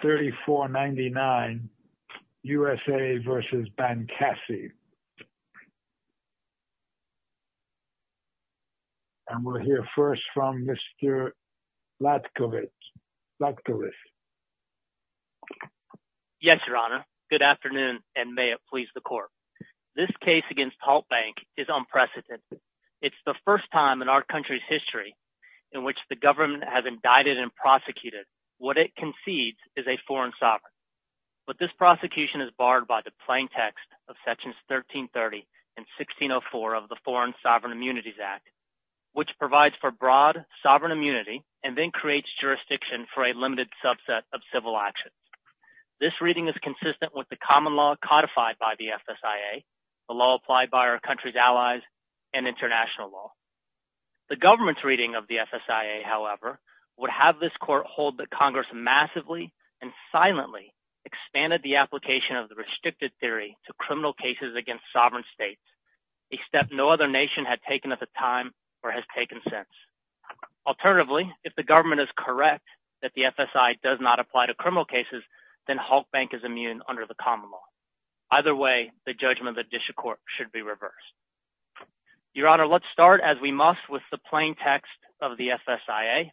20-3499 U.S.A. v. Bankasi Mr. Latkovich Yes, Your Honor. Good afternoon, and may it please the Court. This case against Halk Bank is unprecedented. It's the first time in our country's history in which the government has indicted and prosecuted what it concedes is a foreign sovereign. But this prosecution is barred by the plain text of Sections 1330 and 1604 of the Foreign Sovereign Immunities Act, which provides for broad sovereign immunity and then creates jurisdiction for a limited subset of civil actions. This reading is consistent with the common law codified by the FSIA, the law applied by our country's allies, and international law. The government's reading of the FSIA, however, would have this Court hold that Congress massively and silently expanded the application of the restricted theory to criminal cases against sovereign states, a step no other nation had taken at the time or has taken since. Alternatively, if the government is correct that the FSIA does not apply to criminal cases, then Halk Bank is immune under the common law. Either way, the judgment of the District Court should be reversed. Your Honor, let's start, as we must, with the plain text of the FSIA.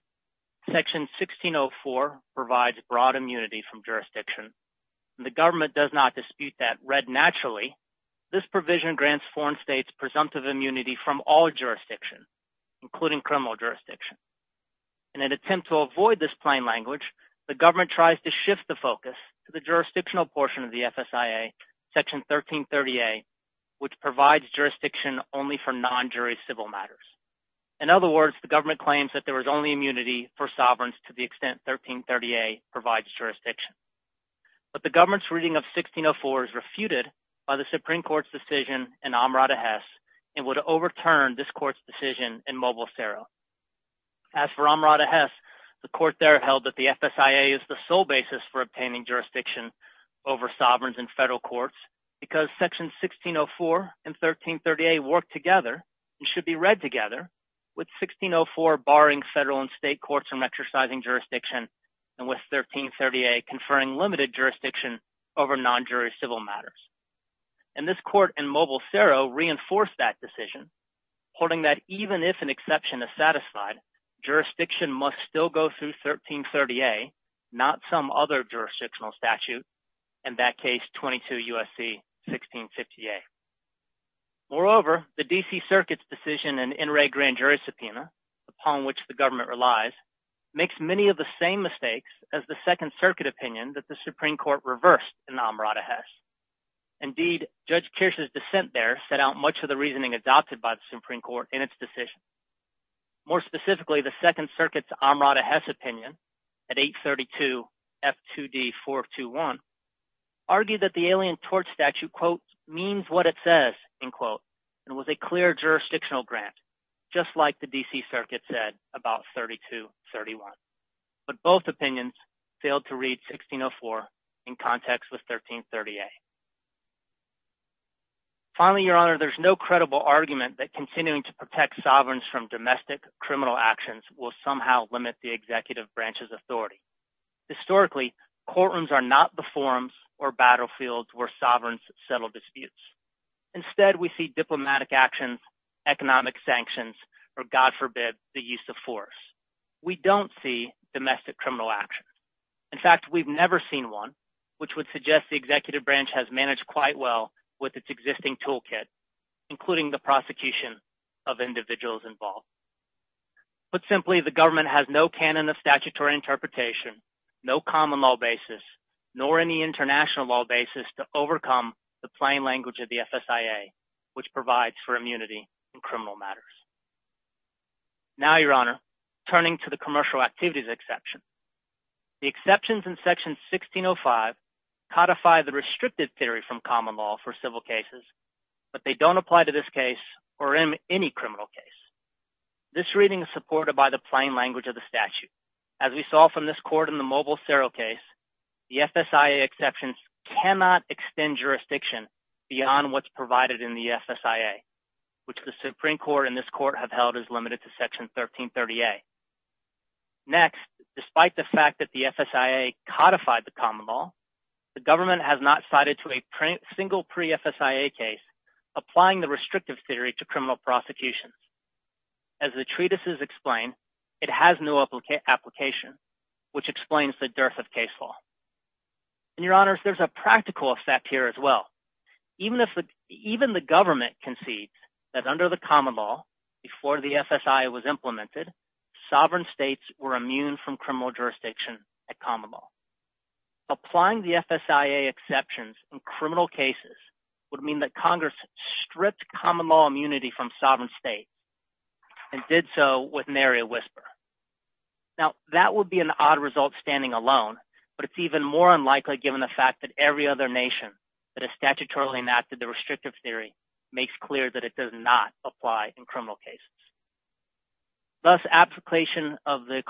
Section 1604 provides broad immunity from jurisdiction. The government does not dispute that. Instead, naturally, this provision grants foreign states presumptive immunity from all jurisdiction, including criminal jurisdiction. In an attempt to avoid this plain language, the government tries to shift the focus to the jurisdictional portion of the FSIA, Section 1330A, which provides jurisdiction only for non-jury civil matters. In other words, the government claims that there is only immunity for sovereigns to the extent 1330A provides jurisdiction. But the government's reading of 1604 is refuted by the Supreme Court's decision in Amrata Hess and would overturn this court's decision in Mobile-Cerro. As for Amrata Hess, the court there held that the FSIA is the sole basis for obtaining jurisdiction over sovereigns in federal courts because Sections 1604 and 1330A work together and should be read together, with 1604 barring federal and state courts from exercising jurisdiction and with 1330A conferring limited jurisdiction over non-jury civil matters. And this court in Mobile-Cerro reinforced that decision, holding that even if an exception is satisfied, jurisdiction must still go through 1330A, not some other jurisdictional statute, in that case 22 U.S.C. 1650A. Moreover, the D.C. Circuit's decision in NRA Grand Jury Subpoena, upon which the government relies, makes many of the same mistakes as the Second Circuit opinion that the Supreme Court reversed in Amrata Hess. Indeed, Judge Kirsch's dissent there set out much of the reasoning adopted by the Supreme Court in its decision. More specifically, the Second Circuit's Amrata Hess opinion at 832 F2D 421, argued that the Alien Torch Statute, quote, means what it says, end quote, and was a clear jurisdictional grant, just like the D.C. Circuit said about 3231. But both opinions failed to read 1604 in context with 1330A. Finally, Your Honor, there's no credible argument that continuing to protect sovereigns from domestic criminal actions will somehow limit the executive branch's authority. Historically, courtrooms are not the forums or battlefields where sovereigns settle disputes. Instead, we see diplomatic actions, economic sanctions, or God forbid, the use of force. We don't see domestic criminal actions. In fact, we've never seen one, which would suggest the executive branch has managed quite well with its existing toolkit, including the prosecution of individuals involved. Put simply, the government has no canon of statutory interpretation, no common law basis, nor any international law basis to overcome the plain language of the FSIA, which provides for immunity in criminal matters. Now, Your Honor, turning to the commercial activities exception, the exceptions in Section 1605 codify the restrictive theory from common law for civil cases, but they don't apply to this case or in any criminal case. This reading is supported by the plain language of the statute. As we saw from this court in the Mobile Serial case, the FSIA exceptions cannot extend jurisdiction beyond what's provided in the FSIA, which the Supreme Court and this court have held as limited to Section 1330A. Next, despite the fact that the FSIA codified the common law, the government has not cited to a single pre-FSIA case applying the restrictive theory to criminal prosecutions. As the treatises explain, it has no application, which explains the dearth of case law. And, Your Honors, there's a practical effect here as well. Even the government concedes that under the common law, before the FSIA was implemented, sovereign states were immune from criminal jurisdiction at common law. Applying the FSIA exceptions in criminal cases would mean that Congress stripped common law immunity from sovereign states and did so with nary a whisper. Now, that would be an odd result standing alone, but it's even more unlikely given the fact that every other nation that has statutorily enacted the restrictive theory makes clear that it does not apply in criminal cases. Thus, application of the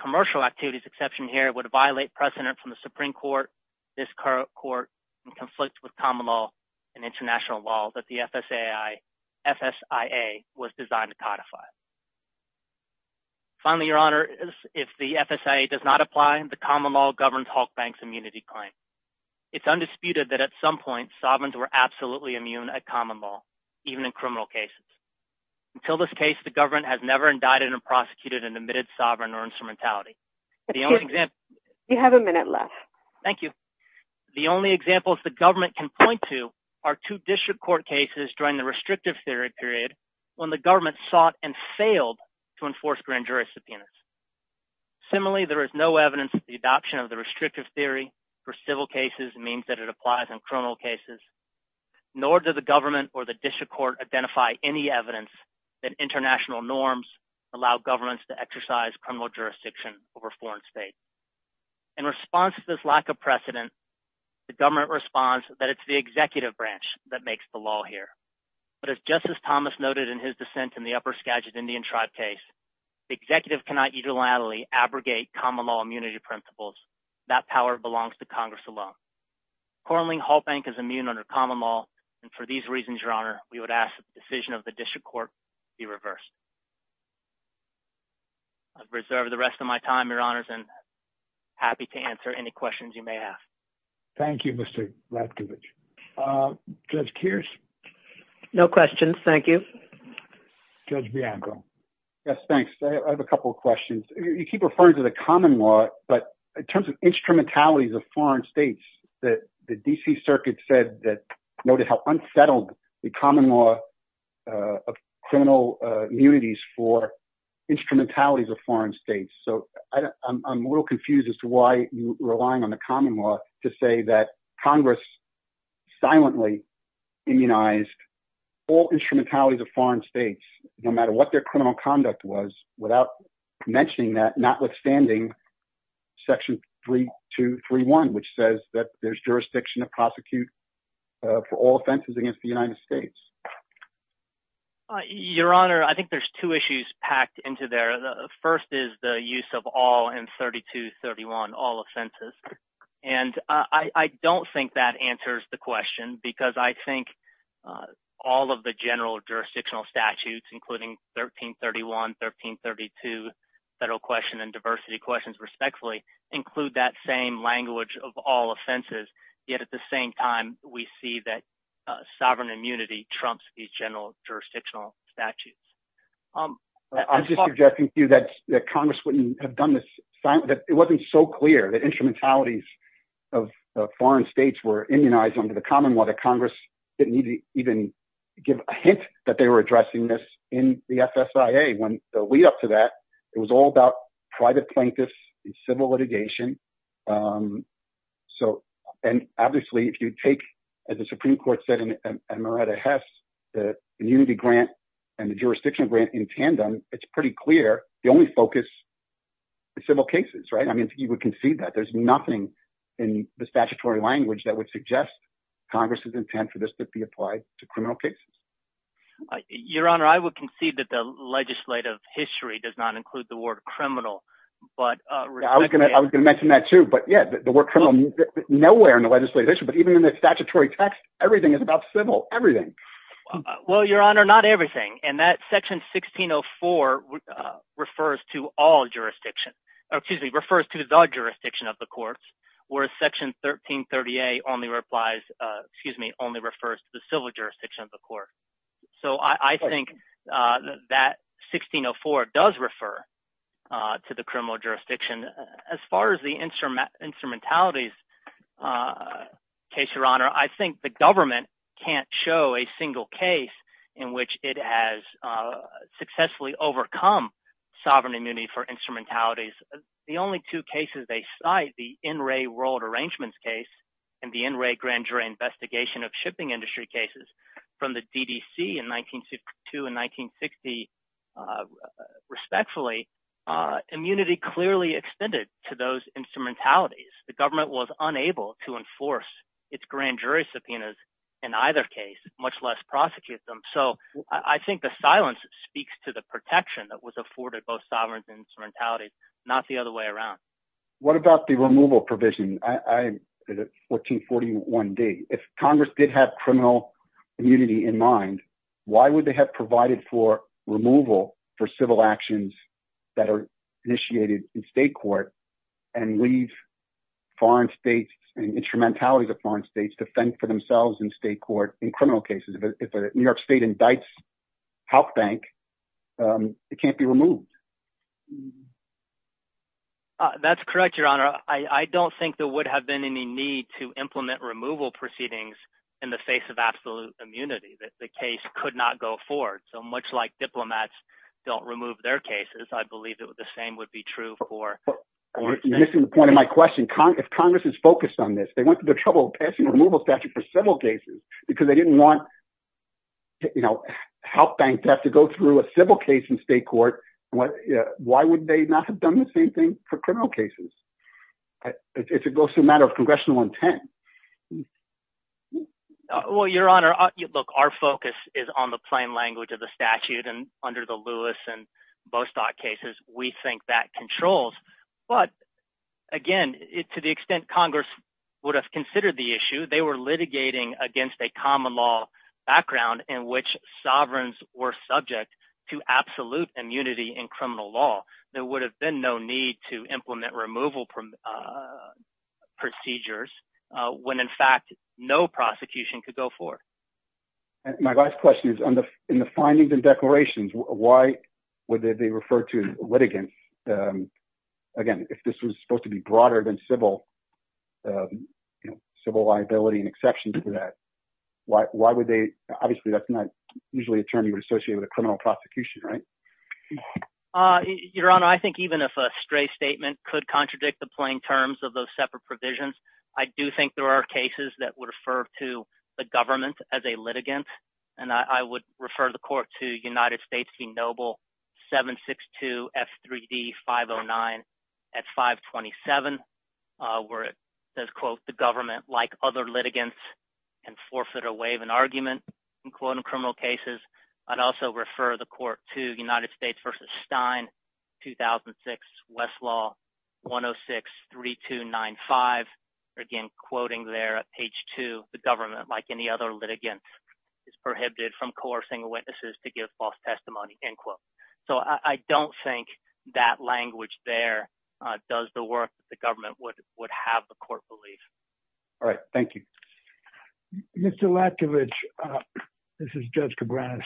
commercial activities exception here would violate precedent from the Supreme Court, this court, and conflict with common law and international law that the FSIA was designed to codify. Finally, Your Honors, if the FSIA does not apply, the common law governs Halk Bank's immunity claim. It's undisputed that at some point sovereigns were absolutely immune at common law, even in criminal cases. Until this case, the government has never indicted or prosecuted an admitted sovereign or instrumentality. Do you have a minute left? Thank you. The only examples the government can point to are two district court cases during the restrictive theory period when the government sought and failed to enforce grand jurisdiction. Similarly, there is no evidence that the adoption of the restrictive theory for civil cases means that it applies in criminal cases, nor does the government or the district court identify any evidence that international norms allow governments to exercise criminal jurisdiction over foreign states. In response to this lack of precedent, the government responds that it's the executive branch that makes the law here. But as Justice Thomas noted in his dissent in the Upper Skagit Indian Tribe case, the executive cannot unilaterally abrogate common law immunity principles. That power belongs to Congress alone. Currently, Halk Bank is immune under common law, and for these reasons, Your Honor, we would ask that the decision of the district court be reversed. I reserve the rest of my time, Your Honors, and I'm happy to answer any questions you may have. Thank you, Mr. Ratkovich. Judge Kears? No questions, thank you. Judge Bianco? Yes, thanks. I have a couple of questions. You keep referring to the common law, but in terms of instrumentalities of foreign states, the D.C. Circuit noted how unsettled the common law of criminal immunities for instrumentalities of foreign states. So I'm a little confused as to why you're relying on the common law to say that Congress silently immunized all instrumentalities of foreign states, no matter what their criminal conduct was, without mentioning that, notwithstanding Section 3231, which says that there's jurisdiction to prosecute for all offenses against the United States. Your Honor, I think there's two issues packed into there. The first is the use of all in 3231, all offenses. And I don't think that answers the question because I think all of the general jurisdictional statutes, including 1331, 1332, federal question and diversity questions, respectfully, include that same language of all offenses. Yet at the same time, we see that sovereign immunity trumps these general jurisdictional statutes. I'm just suggesting to you that Congress wouldn't have done this. It wasn't so clear that instrumentalities of foreign states were immunized under the common law. The Congress didn't even give a hint that they were addressing this in the FSIA. When the lead up to that, it was all about private plaintiffs and civil litigation. So and obviously, if you take, as the Supreme Court said in Moretta Hess, the immunity grant and the jurisdiction grant in tandem, it's pretty clear. The only focus is civil cases, right? I mean, you would concede that there's nothing in the statutory language that would suggest Congress's intent for this to be applied to criminal cases. Your Honor, I would concede that the legislative history does not include the word criminal. I was going to mention that, too. But, yeah, the word criminal is nowhere in the legislative history. But even in the statutory text, everything is about civil. Everything. Well, Your Honor, not everything. And that Section 1604 refers to all jurisdiction. Excuse me, refers to the jurisdiction of the courts, whereas Section 1338 only refers to the civil jurisdiction of the court. So I think that 1604 does refer to the criminal jurisdiction. As far as the instrument instrumentalities case, Your Honor, I think the government can't show a single case in which it has successfully overcome sovereign immunity for instrumentalities. The only two cases they cite, the In Re World Arrangements case and the In Re Grand Jury Investigation of Shipping Industry cases from the DDC in 1962 and 1960, respectfully, immunity clearly extended to those instrumentalities. The government was unable to enforce its grand jury subpoenas in either case, much less prosecute them. So I think the silence speaks to the protection that was afforded both sovereigns and instrumentalities, not the other way around. What about the removal provision? 1441D, if Congress did have criminal immunity in mind, why would they have provided for removal for civil actions that are initiated in state court and leave foreign states and instrumentalities of foreign states to fend for themselves in state court in criminal cases? If a New York state indicts Health Bank, it can't be removed. That's correct, Your Honor. I don't think there would have been any need to implement removal proceedings in the face of absolute immunity. The case could not go forward. So much like diplomats don't remove their cases, I believe that the same would be true for... You're missing the point of my question. If Congress is focused on this, they went to the trouble of passing a removal statute for civil cases because they didn't want Health Bank to have to go through a civil case in state court. Why would they not have done the same thing for criminal cases? It's a matter of congressional intent. Well, Your Honor, look, our focus is on the plain language of the statute and under the Lewis and Bostock cases, we think that controls. But again, to the extent Congress would have considered the issue, they were litigating against a common law background in which sovereigns were subject to absolute immunity in criminal law. There would have been no need to implement removal procedures when, in fact, no prosecution could go forward. My last question is, in the findings and declarations, why would they refer to litigants? Again, if this was supposed to be broader than civil liability and exceptions to that, why would they? Obviously, that's not usually a term you would associate with a criminal prosecution, right? Your Honor, I think even if a stray statement could contradict the plain terms of those separate provisions, I do think there are cases that would refer to the government as a litigant. And I would refer the court to United States v. Noble 762 F3D 509 at 527, where it says, quote, the government, like other litigants, can forfeit or waive an argument in criminal cases. I'd also refer the court to United States v. Stein 2006, Westlaw 1063295, again, quoting there at page 2, the government, like any other litigant, is prohibited from coercing witnesses to give false testimony, end quote. So I don't think that language there does the work that the government would have the court believe. All right. Thank you. Mr. Latkovich, this is Judge Cabranes.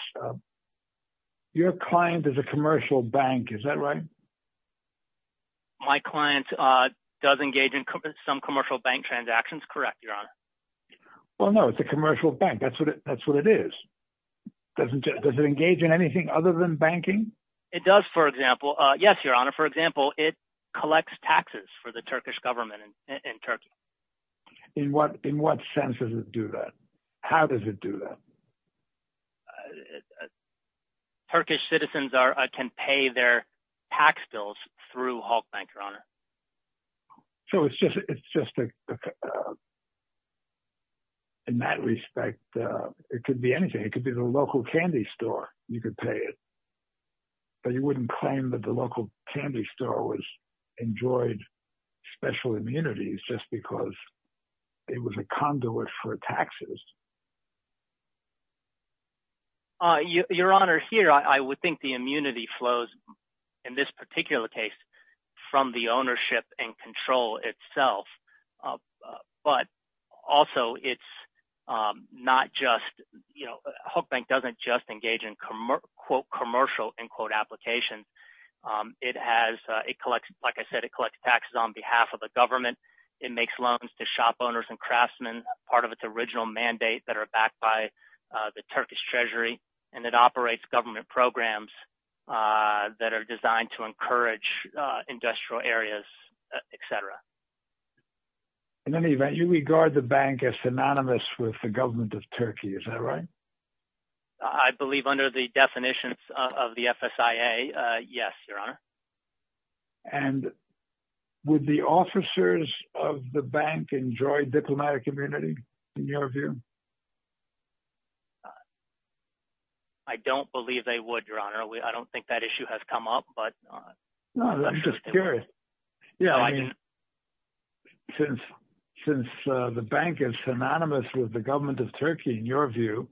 Your client is a commercial bank, is that right? My client does engage in some commercial bank transactions, correct, Your Honor? Well, no, it's a commercial bank. That's what it is. Does it engage in anything other than banking? It does, for example. Yes, Your Honor. For example, it collects taxes for the Turkish government in Turkey. In what sense does it do that? How does it do that? Turkish citizens can pay their tax bills through Halkbank, Your Honor. So it's just – in that respect, it could be anything. It could be the local candy store. You could pay it. But you wouldn't claim that the local candy store enjoyed special immunities just because it was a conduit for taxes. Your Honor, here I would think the immunity flows, in this particular case, from the ownership and control itself. But also it's not just – Halkbank doesn't just engage in, quote, commercial, end quote, applications. It has – it collects – like I said, it collects taxes on behalf of the government. It makes loans to shop owners and craftsmen, part of its original mandate that are backed by the Turkish treasury. And it operates government programs that are designed to encourage industrial areas, et cetera. In any event, you regard the bank as synonymous with the government of Turkey. Is that right? I believe under the definitions of the FSIA, yes, Your Honor. And would the officers of the bank enjoy diplomatic immunity in your view? I don't believe they would, Your Honor. I don't think that issue has come up. I'm just curious. Since the bank is synonymous with the government of Turkey in your view,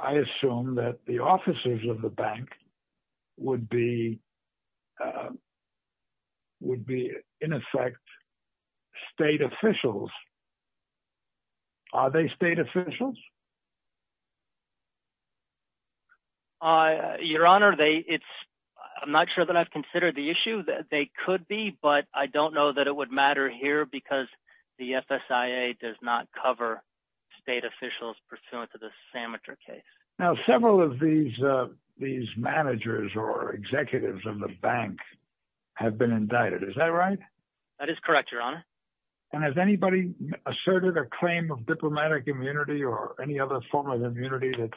I assume that the officers of the bank would be, in effect, state officials. Are they state officials? Your Honor, it's – I'm not sure that I've considered the issue. They could be, but I don't know that it would matter here because the FSIA does not cover state officials pursuant to the Sameter case. Now, several of these managers or executives of the bank have been indicted. Is that right? That is correct, Your Honor. And has anybody asserted a claim of diplomatic immunity or any other form of immunity that's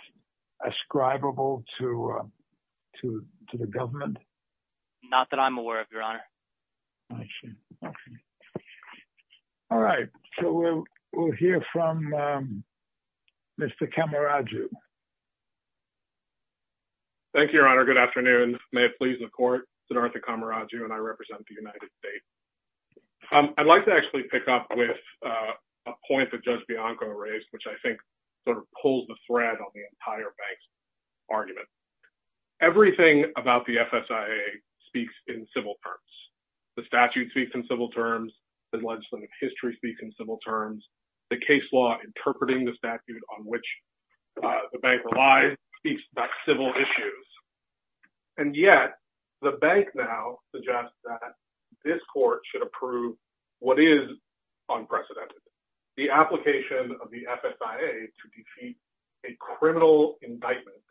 ascribable to the government? Not that I'm aware of, Your Honor. I see. Okay. All right. So we'll hear from Mr. Kamaraju. Thank you, Your Honor. Good afternoon. May it please the court, it's an Arthur Kamaraju and I represent the United States. I'd like to actually pick up with a point that Judge Bianco raised, which I think sort of pulls the thread on the entire bank's argument. Everything about the FSIA speaks in civil terms. The statute speaks in civil terms. The legislative history speaks in civil terms. The case law interpreting the statute on which the bank relies speaks about civil issues. And yet the bank now suggests that this court should approve what is unprecedented, the application of the FSIA to defeat a criminal indictment,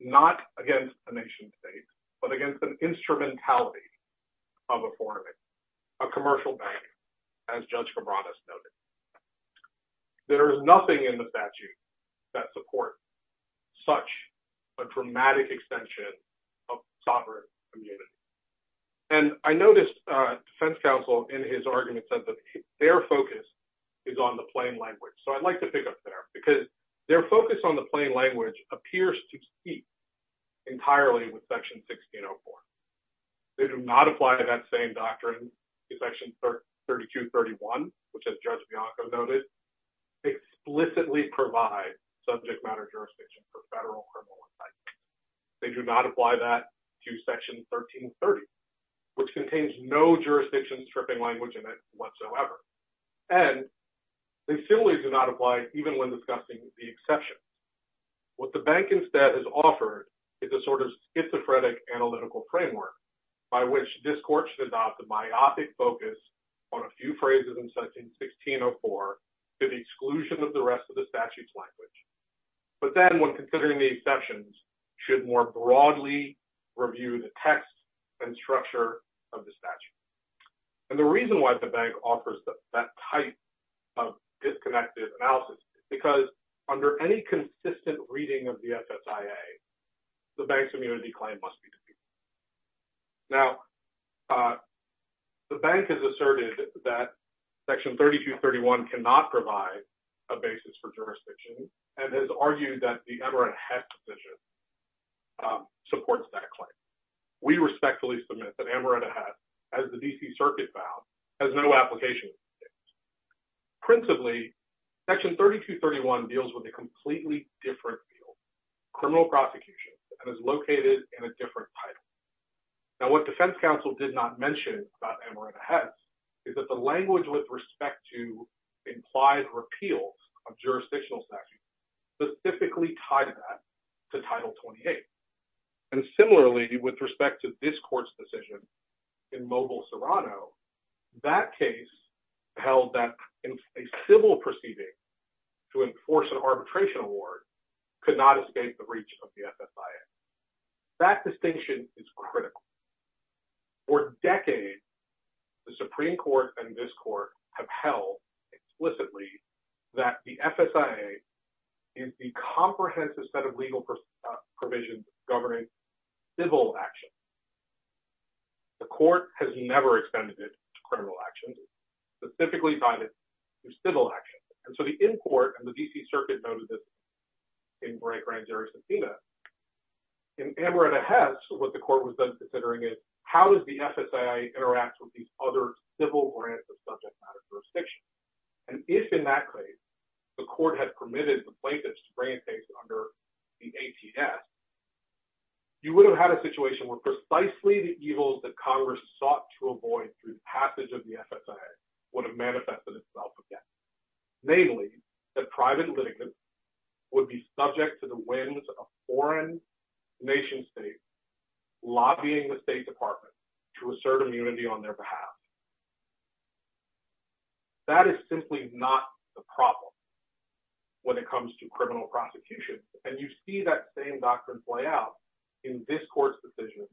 not against a nation state, but against an instrumentality of a foreign bank, a commercial bank, as Judge Cabradas noted. There is nothing in the statute that supports such a dramatic extension of sovereign immunity. And I noticed defense counsel in his argument said that their focus is on the plain language. So I'd like to pick up there because their focus on the plain language appears to speak entirely with Section 1604. They do not apply that same doctrine to Section 3231, which as Judge Bianco noted, explicitly provide subject matter jurisdiction for federal criminal indictments. They do not apply that to Section 1330, which contains no jurisdiction stripping language in it whatsoever. And they similarly do not apply even when discussing the exception. What the bank instead has offered is a sort of schizophrenic analytical framework by which this court should adopt a biopic focus on a few phrases in Section 1604 to the exclusion of the rest of the statute's language. But then when considering the exceptions, should more broadly review the text and structure of the statute. And the reason why the bank offers that type of disconnected analysis is because under any consistent reading of the SSIA, the bank's immunity claim must be disputed. Now, the bank has asserted that Section 3231 cannot provide a basis for jurisdiction and has argued that the Amoretta Hess decision supports that claim. We respectfully submit that Amoretta Hess, as the D.C. Circuit found, has no application. Principally, Section 3231 deals with a completely different field, criminal prosecution, and is located in a different title. Now, what Defense Counsel did not mention about Amoretta Hess is that the language with respect to implied repeals of jurisdictional statute is specifically tied to that, to Title 28. And similarly, with respect to this court's decision in Mobile, Serrano, that case held that a civil proceeding to enforce an arbitration award could not escape the reach of the SSIA. That distinction is critical. For decades, the Supreme Court and this court have held explicitly that the SSIA is the comprehensive set of legal provisions governing civil actions. The court has never extended it to criminal actions. It's specifically tied to civil actions. And so the import, and the D.C. Circuit noted this in Grand Jury Subpoena, in Amoretta Hess, what the court was then considering is, how does the SSIA interact with these other civil grants of subject matter jurisdiction? And if, in that case, the court had permitted the plaintiffs to bring a case under the ATS, you would have had a situation where precisely the evils that Congress sought to avoid through passage of the SSIA would have manifested itself again. Namely, that private litigants would be subject to the whims of foreign nation states lobbying the State Department to assert immunity on their behalf. That is simply not the problem when it comes to criminal prosecution, and you see that same doctrine play out in this court's decision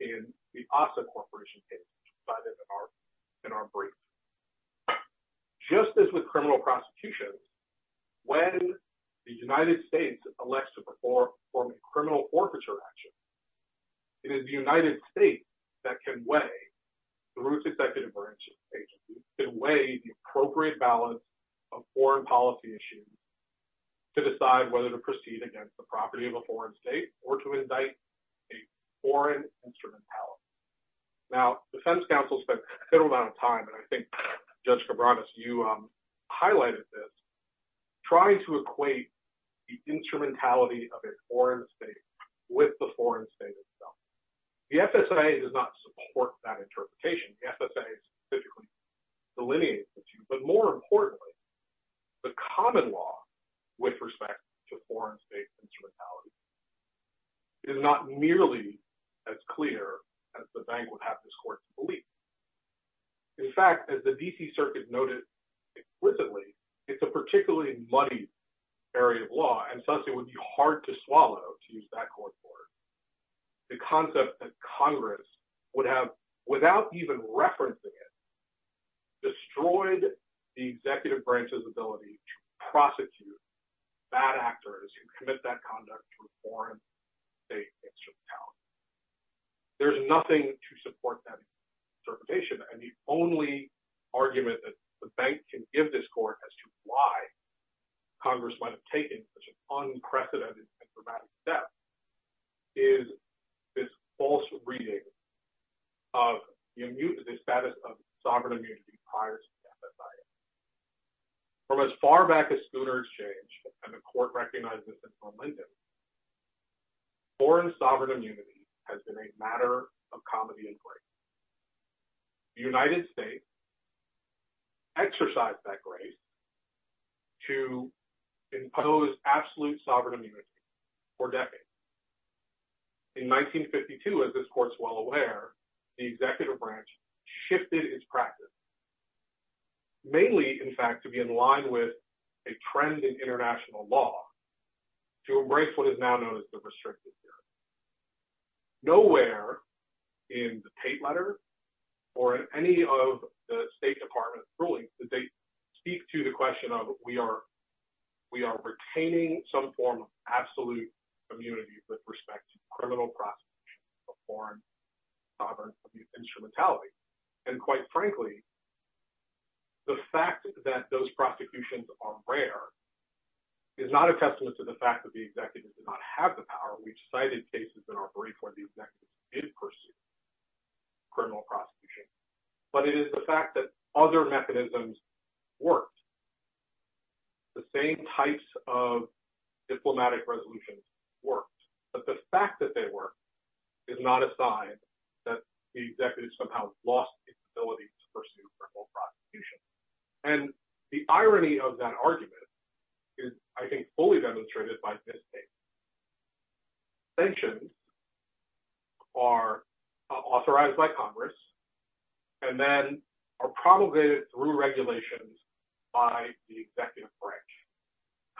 in the ASA Corporation case cited in our brief. Just as with criminal prosecution, when the United States elects to perform a criminal orbiter action, it is the United States that can weigh, through its executive branch agencies, can weigh the appropriate balance of foreign policy issues to decide whether to proceed against the property of a foreign state or to indict a foreign instrumentality. Now, defense counsel spent a fair amount of time, and I think Judge Cabranes, you highlighted this, trying to equate the instrumentality of a foreign state with the foreign state itself. The SSIA does not support that interpretation. The SSIA specifically delineates the two, but more importantly, the common law with respect to foreign state instrumentality is not nearly as clear as the bank would have this court to believe. In fact, as the D.C. Circuit noted explicitly, it's a particularly muddy area of law, and thus it would be hard to swallow to use that court order. The concept that Congress would have, without even referencing it, destroyed the executive branch's ability to prosecute bad actors who commit that conduct to a foreign state instrumentality. There's nothing to support that interpretation, and the only argument that the bank can give this court as to why Congress might have taken such an unprecedented and dramatic step is this false reading of the status of sovereign immunity prior to the SSIA. From as far back as Schooner Exchange, and the court recognized this as unlimited, foreign sovereign immunity has been a matter of comedy and grace. The United States exercised that grace to impose absolute sovereign immunity for decades. In 1952, as this court's well aware, the executive branch shifted its practice, mainly, in fact, to be in line with a trend in international law to embrace what is now known as the restricted period. Nowhere in the Tate letter or in any of the State Department's rulings did they speak to the question of, we are retaining some form of absolute immunity with respect to criminal prosecution of foreign sovereign instrumentality. And quite frankly, the fact that those prosecutions are rare is not a testament to the fact that the executive did not have the power. We've cited cases in our brief where the executive did pursue criminal prosecution, but it is the fact that other mechanisms worked. The same types of diplomatic resolutions worked, but the fact that they worked is not a sign that the executive somehow lost the ability to pursue criminal prosecution. And the irony of that argument is, I think, fully demonstrated by this case. Sanctions are authorized by Congress and then are promulgated through regulations by the executive branch.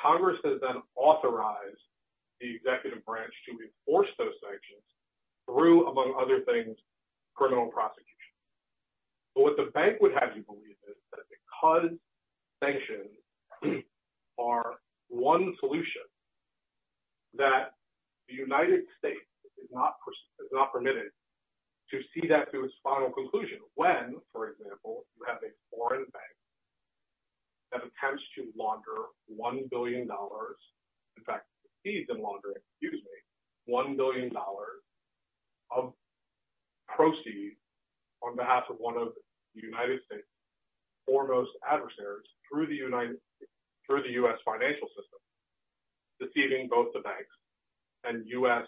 Congress has then authorized the executive branch to enforce those sanctions through, among other things, criminal prosecution. But what the bank would have you believe is that because sanctions are one solution, that the United States is not permitted to see that through its final conclusion when, for example, you have a foreign bank that attempts to launder $1 billion. In fact, exceeds in laundering, excuse me, $1 billion of proceeds on behalf of one of the United States' foremost adversaries through the U.S. financial system, deceiving both the banks and U.S.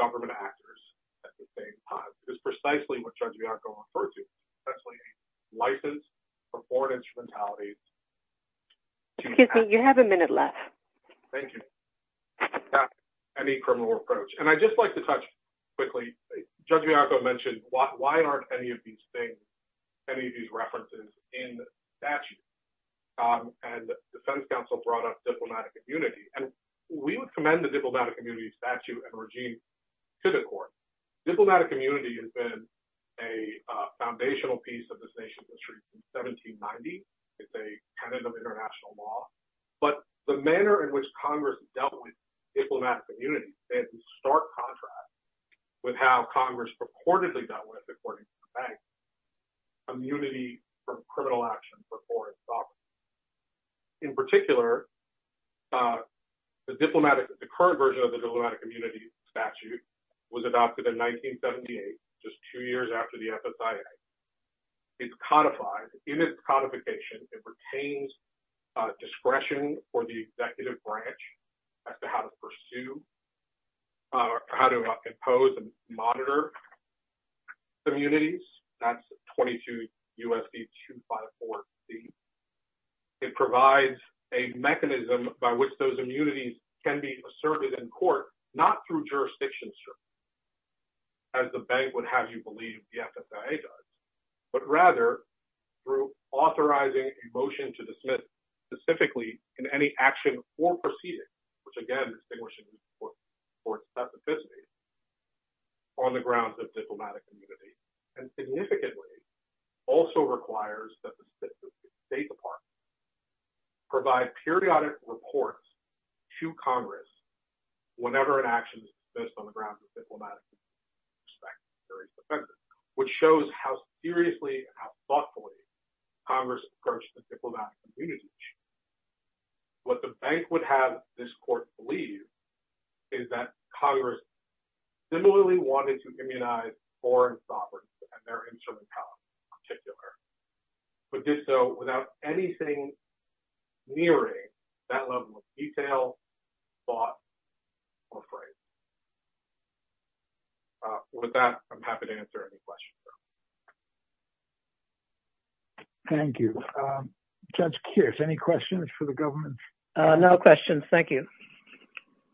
government actors at the same time. This is precisely what Judge Bianco referred to, essentially a license for foreign instrumentalities. Excuse me, you have a minute left. Thank you. Any criminal approach. And I'd just like to touch quickly, Judge Bianco mentioned, why aren't any of these things, any of these references in statute? And defense counsel brought up diplomatic immunity. And we would commend the diplomatic immunity statute and regime to the court. Diplomatic immunity has been a foundational piece of this nation's history since 1790. It's a kind of international law. But the manner in which Congress has dealt with diplomatic immunity stands in stark contrast with how Congress purportedly dealt with, according to the bank, immunity from criminal action for foreign sovereigns. In particular, the current version of the diplomatic immunity statute was adopted in 1978, just two years after the FSIA. It's codified. In its codification, it retains discretion for the executive branch as to how to pursue or how to impose and monitor immunities. That's 22 U.S.C. 254C. It provides a mechanism by which those immunities can be asserted in court, not through jurisdiction. As the bank would have you believe the FSIA does, but rather through authorizing a motion to dismiss specifically in any action or proceeding, which again distinguishes the court's specificity, on the grounds of diplomatic immunity. And significantly, also requires that the State Department provide periodic reports to Congress whenever an action is dismissed on the grounds of diplomatic immunity. Which shows how seriously and how thoughtfully Congress approached the diplomatic immunity statute. What the bank would have this court believe is that Congress similarly wanted to immunize foreign sovereigns and their internal powers in particular, but did so without anything nearing that level of detail, thought, or phrase. With that, I'm happy to answer any questions. Thank you. Judge Kearse, any questions for the government? No questions. Thank you.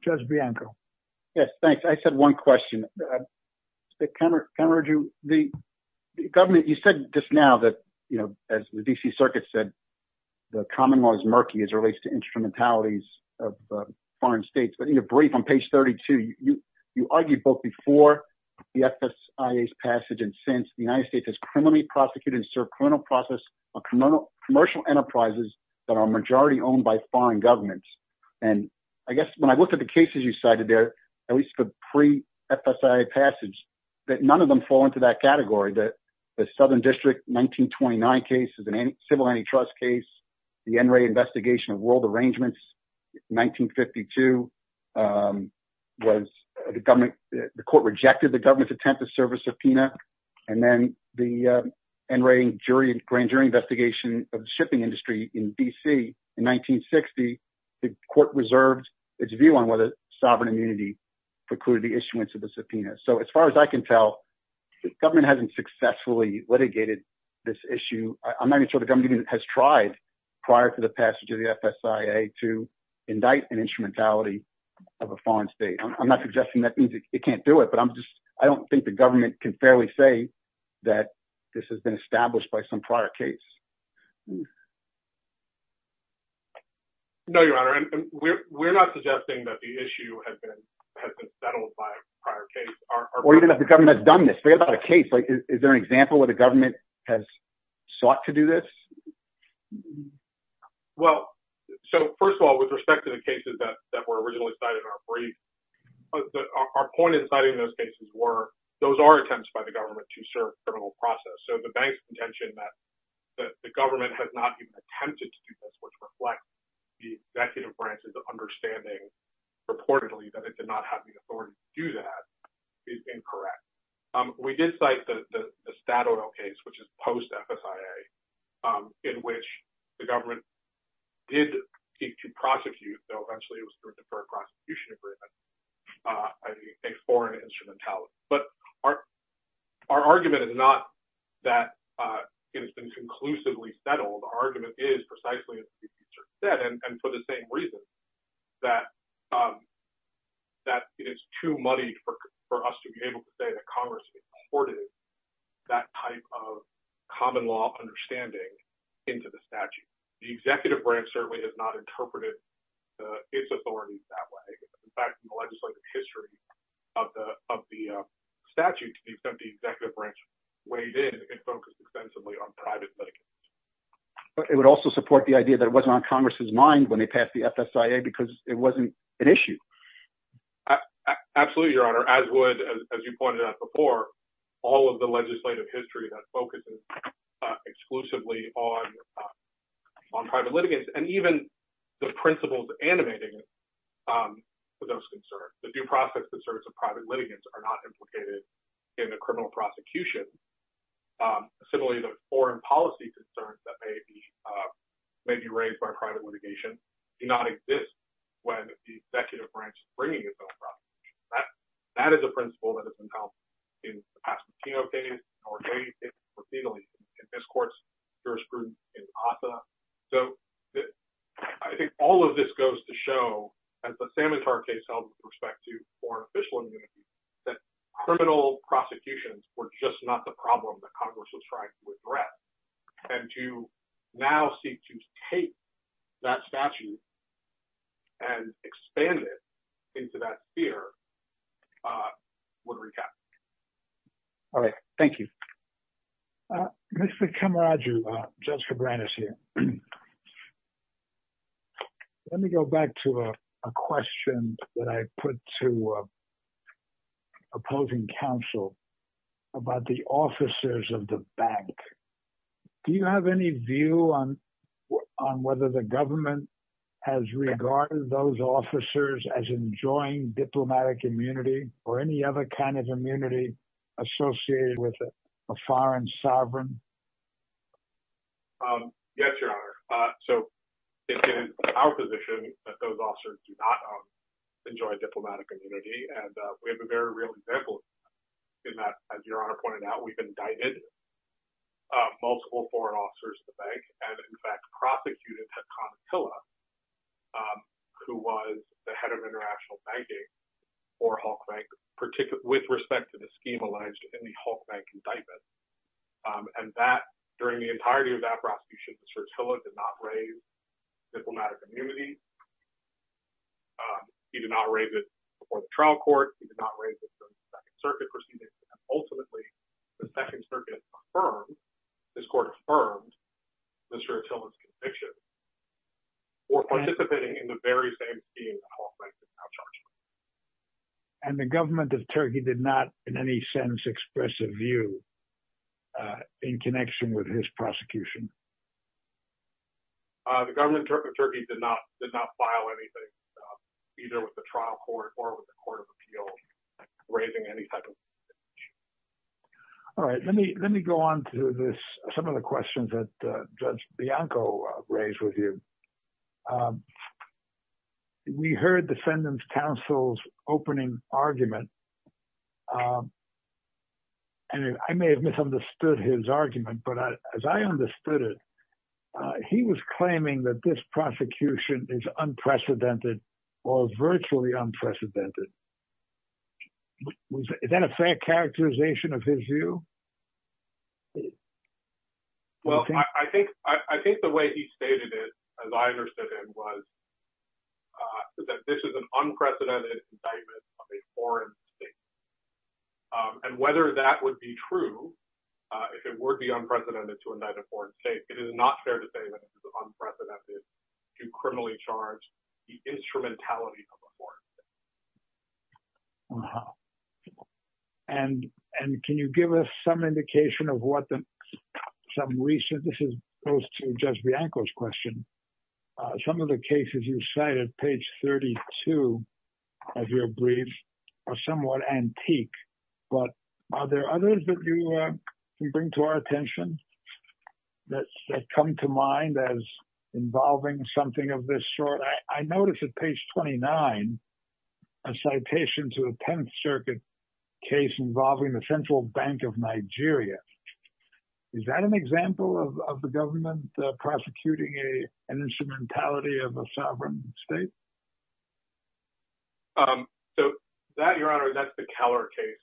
Judge Bianco. Yes, thanks. I said one question. The government, you said just now that, you know, as the D.C. Circuit said, the common law is murky as it relates to instrumentalities of foreign states. But in your brief on page 32, you argued both before the FSIA's passage and since the United States has criminally prosecuted and served criminal process of commercial enterprises that are majority owned by foreign governments. And I guess when I looked at the cases you cited there, at least the pre-FSIA passage, that none of them fall into that category. The Southern District 1929 case is a civil antitrust case. The NRA investigation of world arrangements, 1952, the court rejected the government's attempt to serve a subpoena. And then the NRA grand jury investigation of the shipping industry in D.C. in 1960, the court reserved its view on whether sovereign immunity precluded the issuance of the subpoena. So as far as I can tell, the government hasn't successfully litigated this issue. I'm not even sure the government has tried prior to the passage of the FSIA to indict an instrumentality of a foreign state. I'm not suggesting that means it can't do it, but I don't think the government can fairly say that this has been established by some prior case. No, Your Honor. We're not suggesting that the issue has been settled by a prior case. Or even if the government has done this. Think about a case. Is there an example where the government has sought to do this? Well, so first of all, with respect to the cases that were originally cited in our brief, our point in citing those cases were, those are attempts by the government to serve a criminal process. So the bank's contention that the government has not even attempted to do this, which reflects the executive branch's understanding reportedly that it did not have the authority to do that, is incorrect. We did cite the Estado case, which is post-FSIA, in which the government did seek to prosecute, though eventually it was through a deferred prosecution agreement, a foreign instrumentality. But our argument is not that it has been conclusively settled. Our argument is, precisely as the Chief Justice said, and for the same reason, that it's too muddy for us to be able to say that Congress imported that type of common law understanding into the statute. The executive branch certainly has not interpreted its authority that way. In fact, in the legislative history of the statute, the executive branch weighed in and focused extensively on private litigants. But it would also support the idea that it wasn't on Congress's mind when they passed the FSIA because it wasn't an issue. Absolutely, Your Honor. As you pointed out before, all of the legislative history that focuses exclusively on private litigants, and even the principles animating those concerns, the due process concerns of private litigants, are not implicated in the criminal prosecution. Similarly, the foreign policy concerns that may be raised by private litigation do not exist when the executive branch is bringing its own prosecution. That is a principle that has been held in the Pasquitino case, in Jorge's case, or Fidel's case, in this court's jurisprudence in Ossa. I think all of this goes to show, as the Samantar case held with respect to foreign official immunity, that criminal prosecutions were just not the problem that Congress was trying to address. And to now seek to take that statute and expand it into that sphere would recap. All right. Thank you. Mr. Camaraggio, Judge Cabranes here. Let me go back to a question that I put to opposing counsel about the officers of the bank. Do you have any view on whether the government has regarded those officers as enjoying diplomatic immunity or any other kind of immunity associated with a foreign sovereign? Yes, Your Honor. So it is our position that those officers do not enjoy diplomatic immunity. And we have a very real example in that, as Your Honor pointed out, we've indicted multiple foreign officers at the bank and, in fact, prosecuted Hakan Attila, who was the head of international banking for Hulk Bank, with respect to the scheme alleged in the Hulk Bank indictment. And that, during the entirety of that prosecution, Mr. Attila did not raise diplomatic immunity. He did not raise it before the trial court. He did not raise it during the Second Circuit proceedings. Ultimately, the Second Circuit affirmed, this court affirmed, Mr. Attila's conviction for participating in the very same scheme that Hulk Bank is now charging. And the government of Turkey did not, in any sense, express a view in connection with his prosecution? The government of Turkey did not file anything, either with the trial court or with the Court of Appeals, raising any type of... All right. Let me go on to some of the questions that Judge Bianco raised with you. We heard the defendant's counsel's opening argument, and I may have misunderstood his argument, but as I understood it, he was claiming that this prosecution is unprecedented or virtually unprecedented. Is that a fair characterization of his view? Well, I think the way he stated it, as I understood it, was that this is an unprecedented indictment of a foreign state. And whether that would be true, if it were to be unprecedented to indict a foreign state, it is not fair to say that it is unprecedented to criminally charge the instrumentality of a foreign state. Wow. And can you give us some indication of what some recent... This goes to Judge Bianco's question. Some of the cases you cited, page 32 of your brief, are somewhat antique. But are there others that you bring to our attention that come to mind as involving something of this sort? I noticed at page 29, a citation to the Tenth Circuit case involving the Central Bank of Nigeria. Is that an example of the government prosecuting an instrumentality of a sovereign state? So that, Your Honor, that's the Keller case.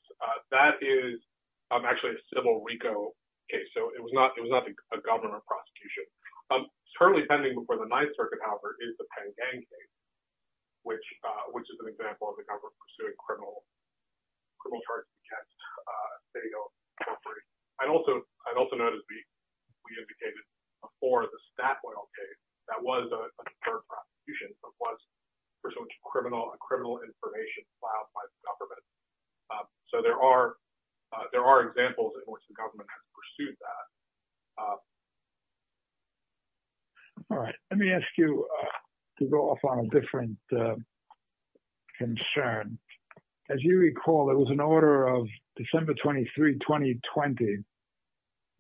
That is actually a civil RICO case, so it was not a government prosecution. Currently pending before the Ninth Circuit, however, is the Penn Gang case, which is an example of the government pursuing criminal charges against state-owned corporations. I'd also notice we indicated before the Statoil case that was a deterrent prosecution, but was pursuant to criminal information filed by the government. So there are examples in which the government has pursued that. All right. Let me ask you to go off on a different concern. As you recall, there was an order of December 23, 2020,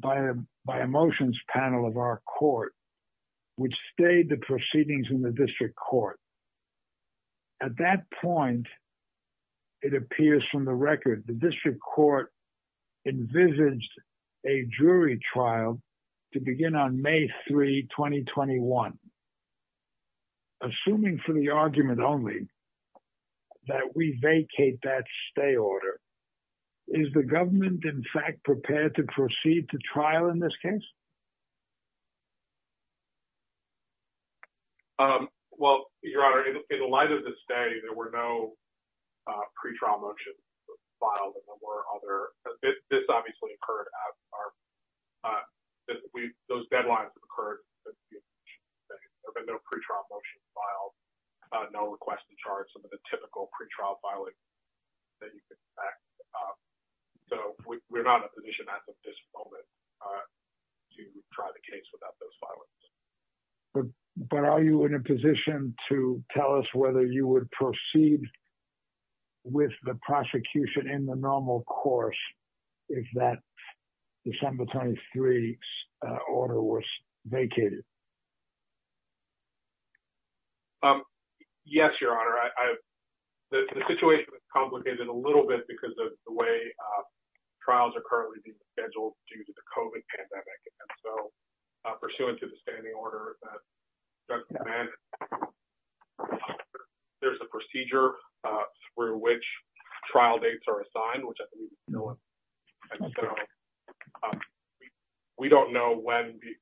by a motions panel of our court, which stayed the proceedings in the district court. At that point, it appears from the record, the district court envisaged a jury trial to begin on May 3, 2021. Assuming for the argument only that we vacate that stay order, is the government in fact prepared to proceed to trial in this case? Well, Your Honor, in the light of this stay, there were no pre-trial motions filed, and there were other—this obviously occurred as our—those deadlines have occurred. There have been no pre-trial motions filed, no request to charge, some of the typical pre-trial filing that you can expect. So we're not in a position at this moment to try the case without those filings. But are you in a position to tell us whether you would proceed with the prosecution in the normal course if that December 23 order was vacated? Yes, Your Honor. The situation is complicated a little bit because of the way trials are currently being scheduled due to the COVID pandemic. And so, pursuant to the standing order, there's a procedure through which trial dates are assigned, which I believe you know of. And so, we don't know when the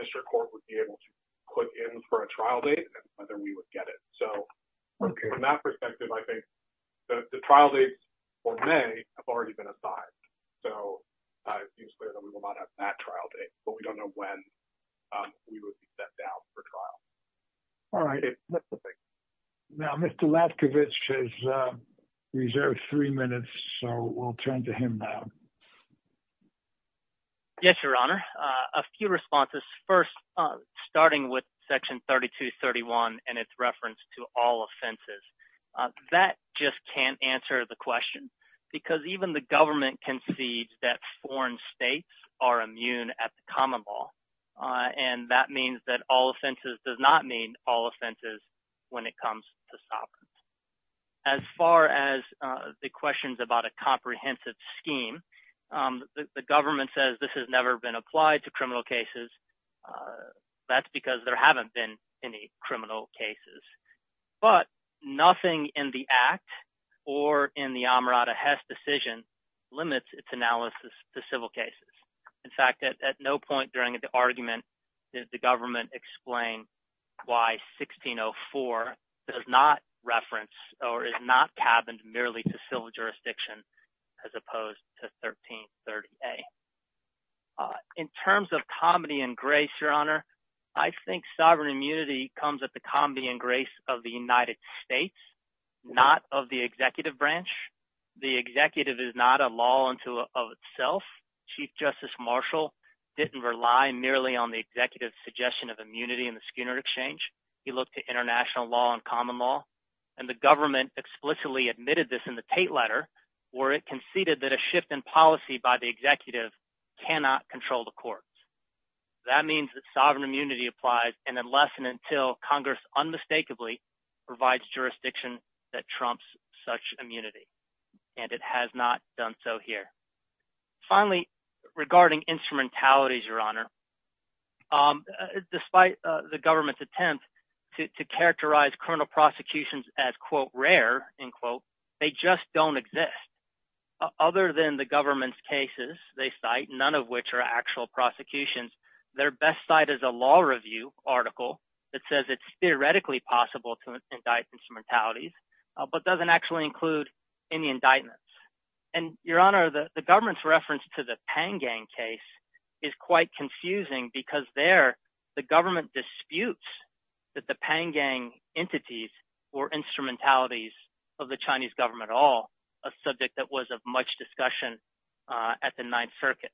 district court would be able to put in for a trial date and whether we would get it. So, from that perspective, I think the trial dates for May have already been assigned. So, it seems clear that we will not have that trial date, but we don't know when we would be set down for trial. All right. Now, Mr. Latkovich has reserved three minutes, so we'll turn to him now. Yes, Your Honor. A few responses. First, starting with Section 3231 and its reference to all offenses. That just can't answer the question, because even the government concedes that foreign states are immune at the common law. And that means that all offenses does not mean all offenses when it comes to SOPRs. As far as the questions about a comprehensive scheme, the government says this has never been applied to criminal cases. That's because there haven't been any criminal cases. But nothing in the Act or in the Amarada Hess decision limits its analysis to civil cases. In fact, at no point during the argument did the government explain why 1604 does not reference or is not cabined merely to civil jurisdiction, as opposed to 1330A. In terms of comedy and grace, Your Honor, I think sovereign immunity comes at the comedy and grace of the United States, not of the executive branch. The executive is not a law unto of itself. Chief Justice Marshall didn't rely merely on the executive's suggestion of immunity in the Skinner Exchange. He looked at international law and common law. And the government explicitly admitted this in the Tate Letter, where it conceded that a shift in policy by the executive cannot control the courts. That means that sovereign immunity applies unless and until Congress unmistakably provides jurisdiction that trumps such immunity. And it has not done so here. Finally, regarding instrumentalities, Your Honor, despite the government's attempt to characterize criminal prosecutions as, quote, rare, unquote, they just don't exist. Other than the government's cases they cite, none of which are actual prosecutions, their best site is a law review article that says it's theoretically possible to indict instrumentalities, but doesn't actually include any indictments. And, Your Honor, the government's reference to the Pan Gang case is quite confusing because there the government disputes that the Pan Gang entities were instrumentalities of the Chinese government at all, a subject that was of much discussion at the Ninth Circuit.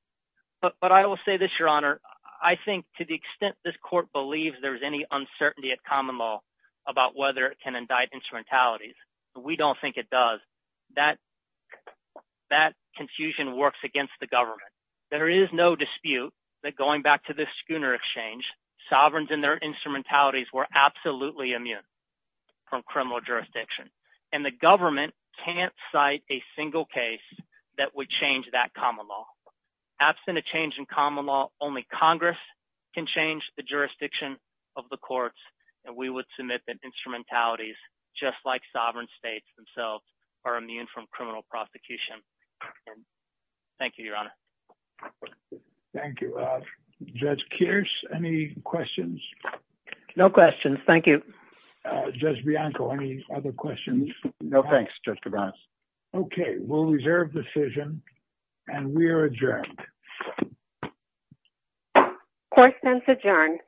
But I will say this, Your Honor. I think to the extent this court believes there's any uncertainty at common law about whether it can indict instrumentalities, we don't think it does. That confusion works against the government. There is no dispute that going back to the Schooner Exchange, sovereigns and their instrumentalities were absolutely immune from criminal jurisdiction. And the government can't cite a single case that would change that common law. Absent a change in common law, only Congress can change the jurisdiction of the courts, and we would submit that instrumentalities, just like sovereign states themselves, are immune from criminal prosecution. Thank you, Your Honor. Thank you. Judge Kearse, any questions? No questions. Thank you. Judge Bianco, any other questions? No, thanks, Justice Garza. Okay, we'll reserve the decision, and we are adjourned. Court is adjourned.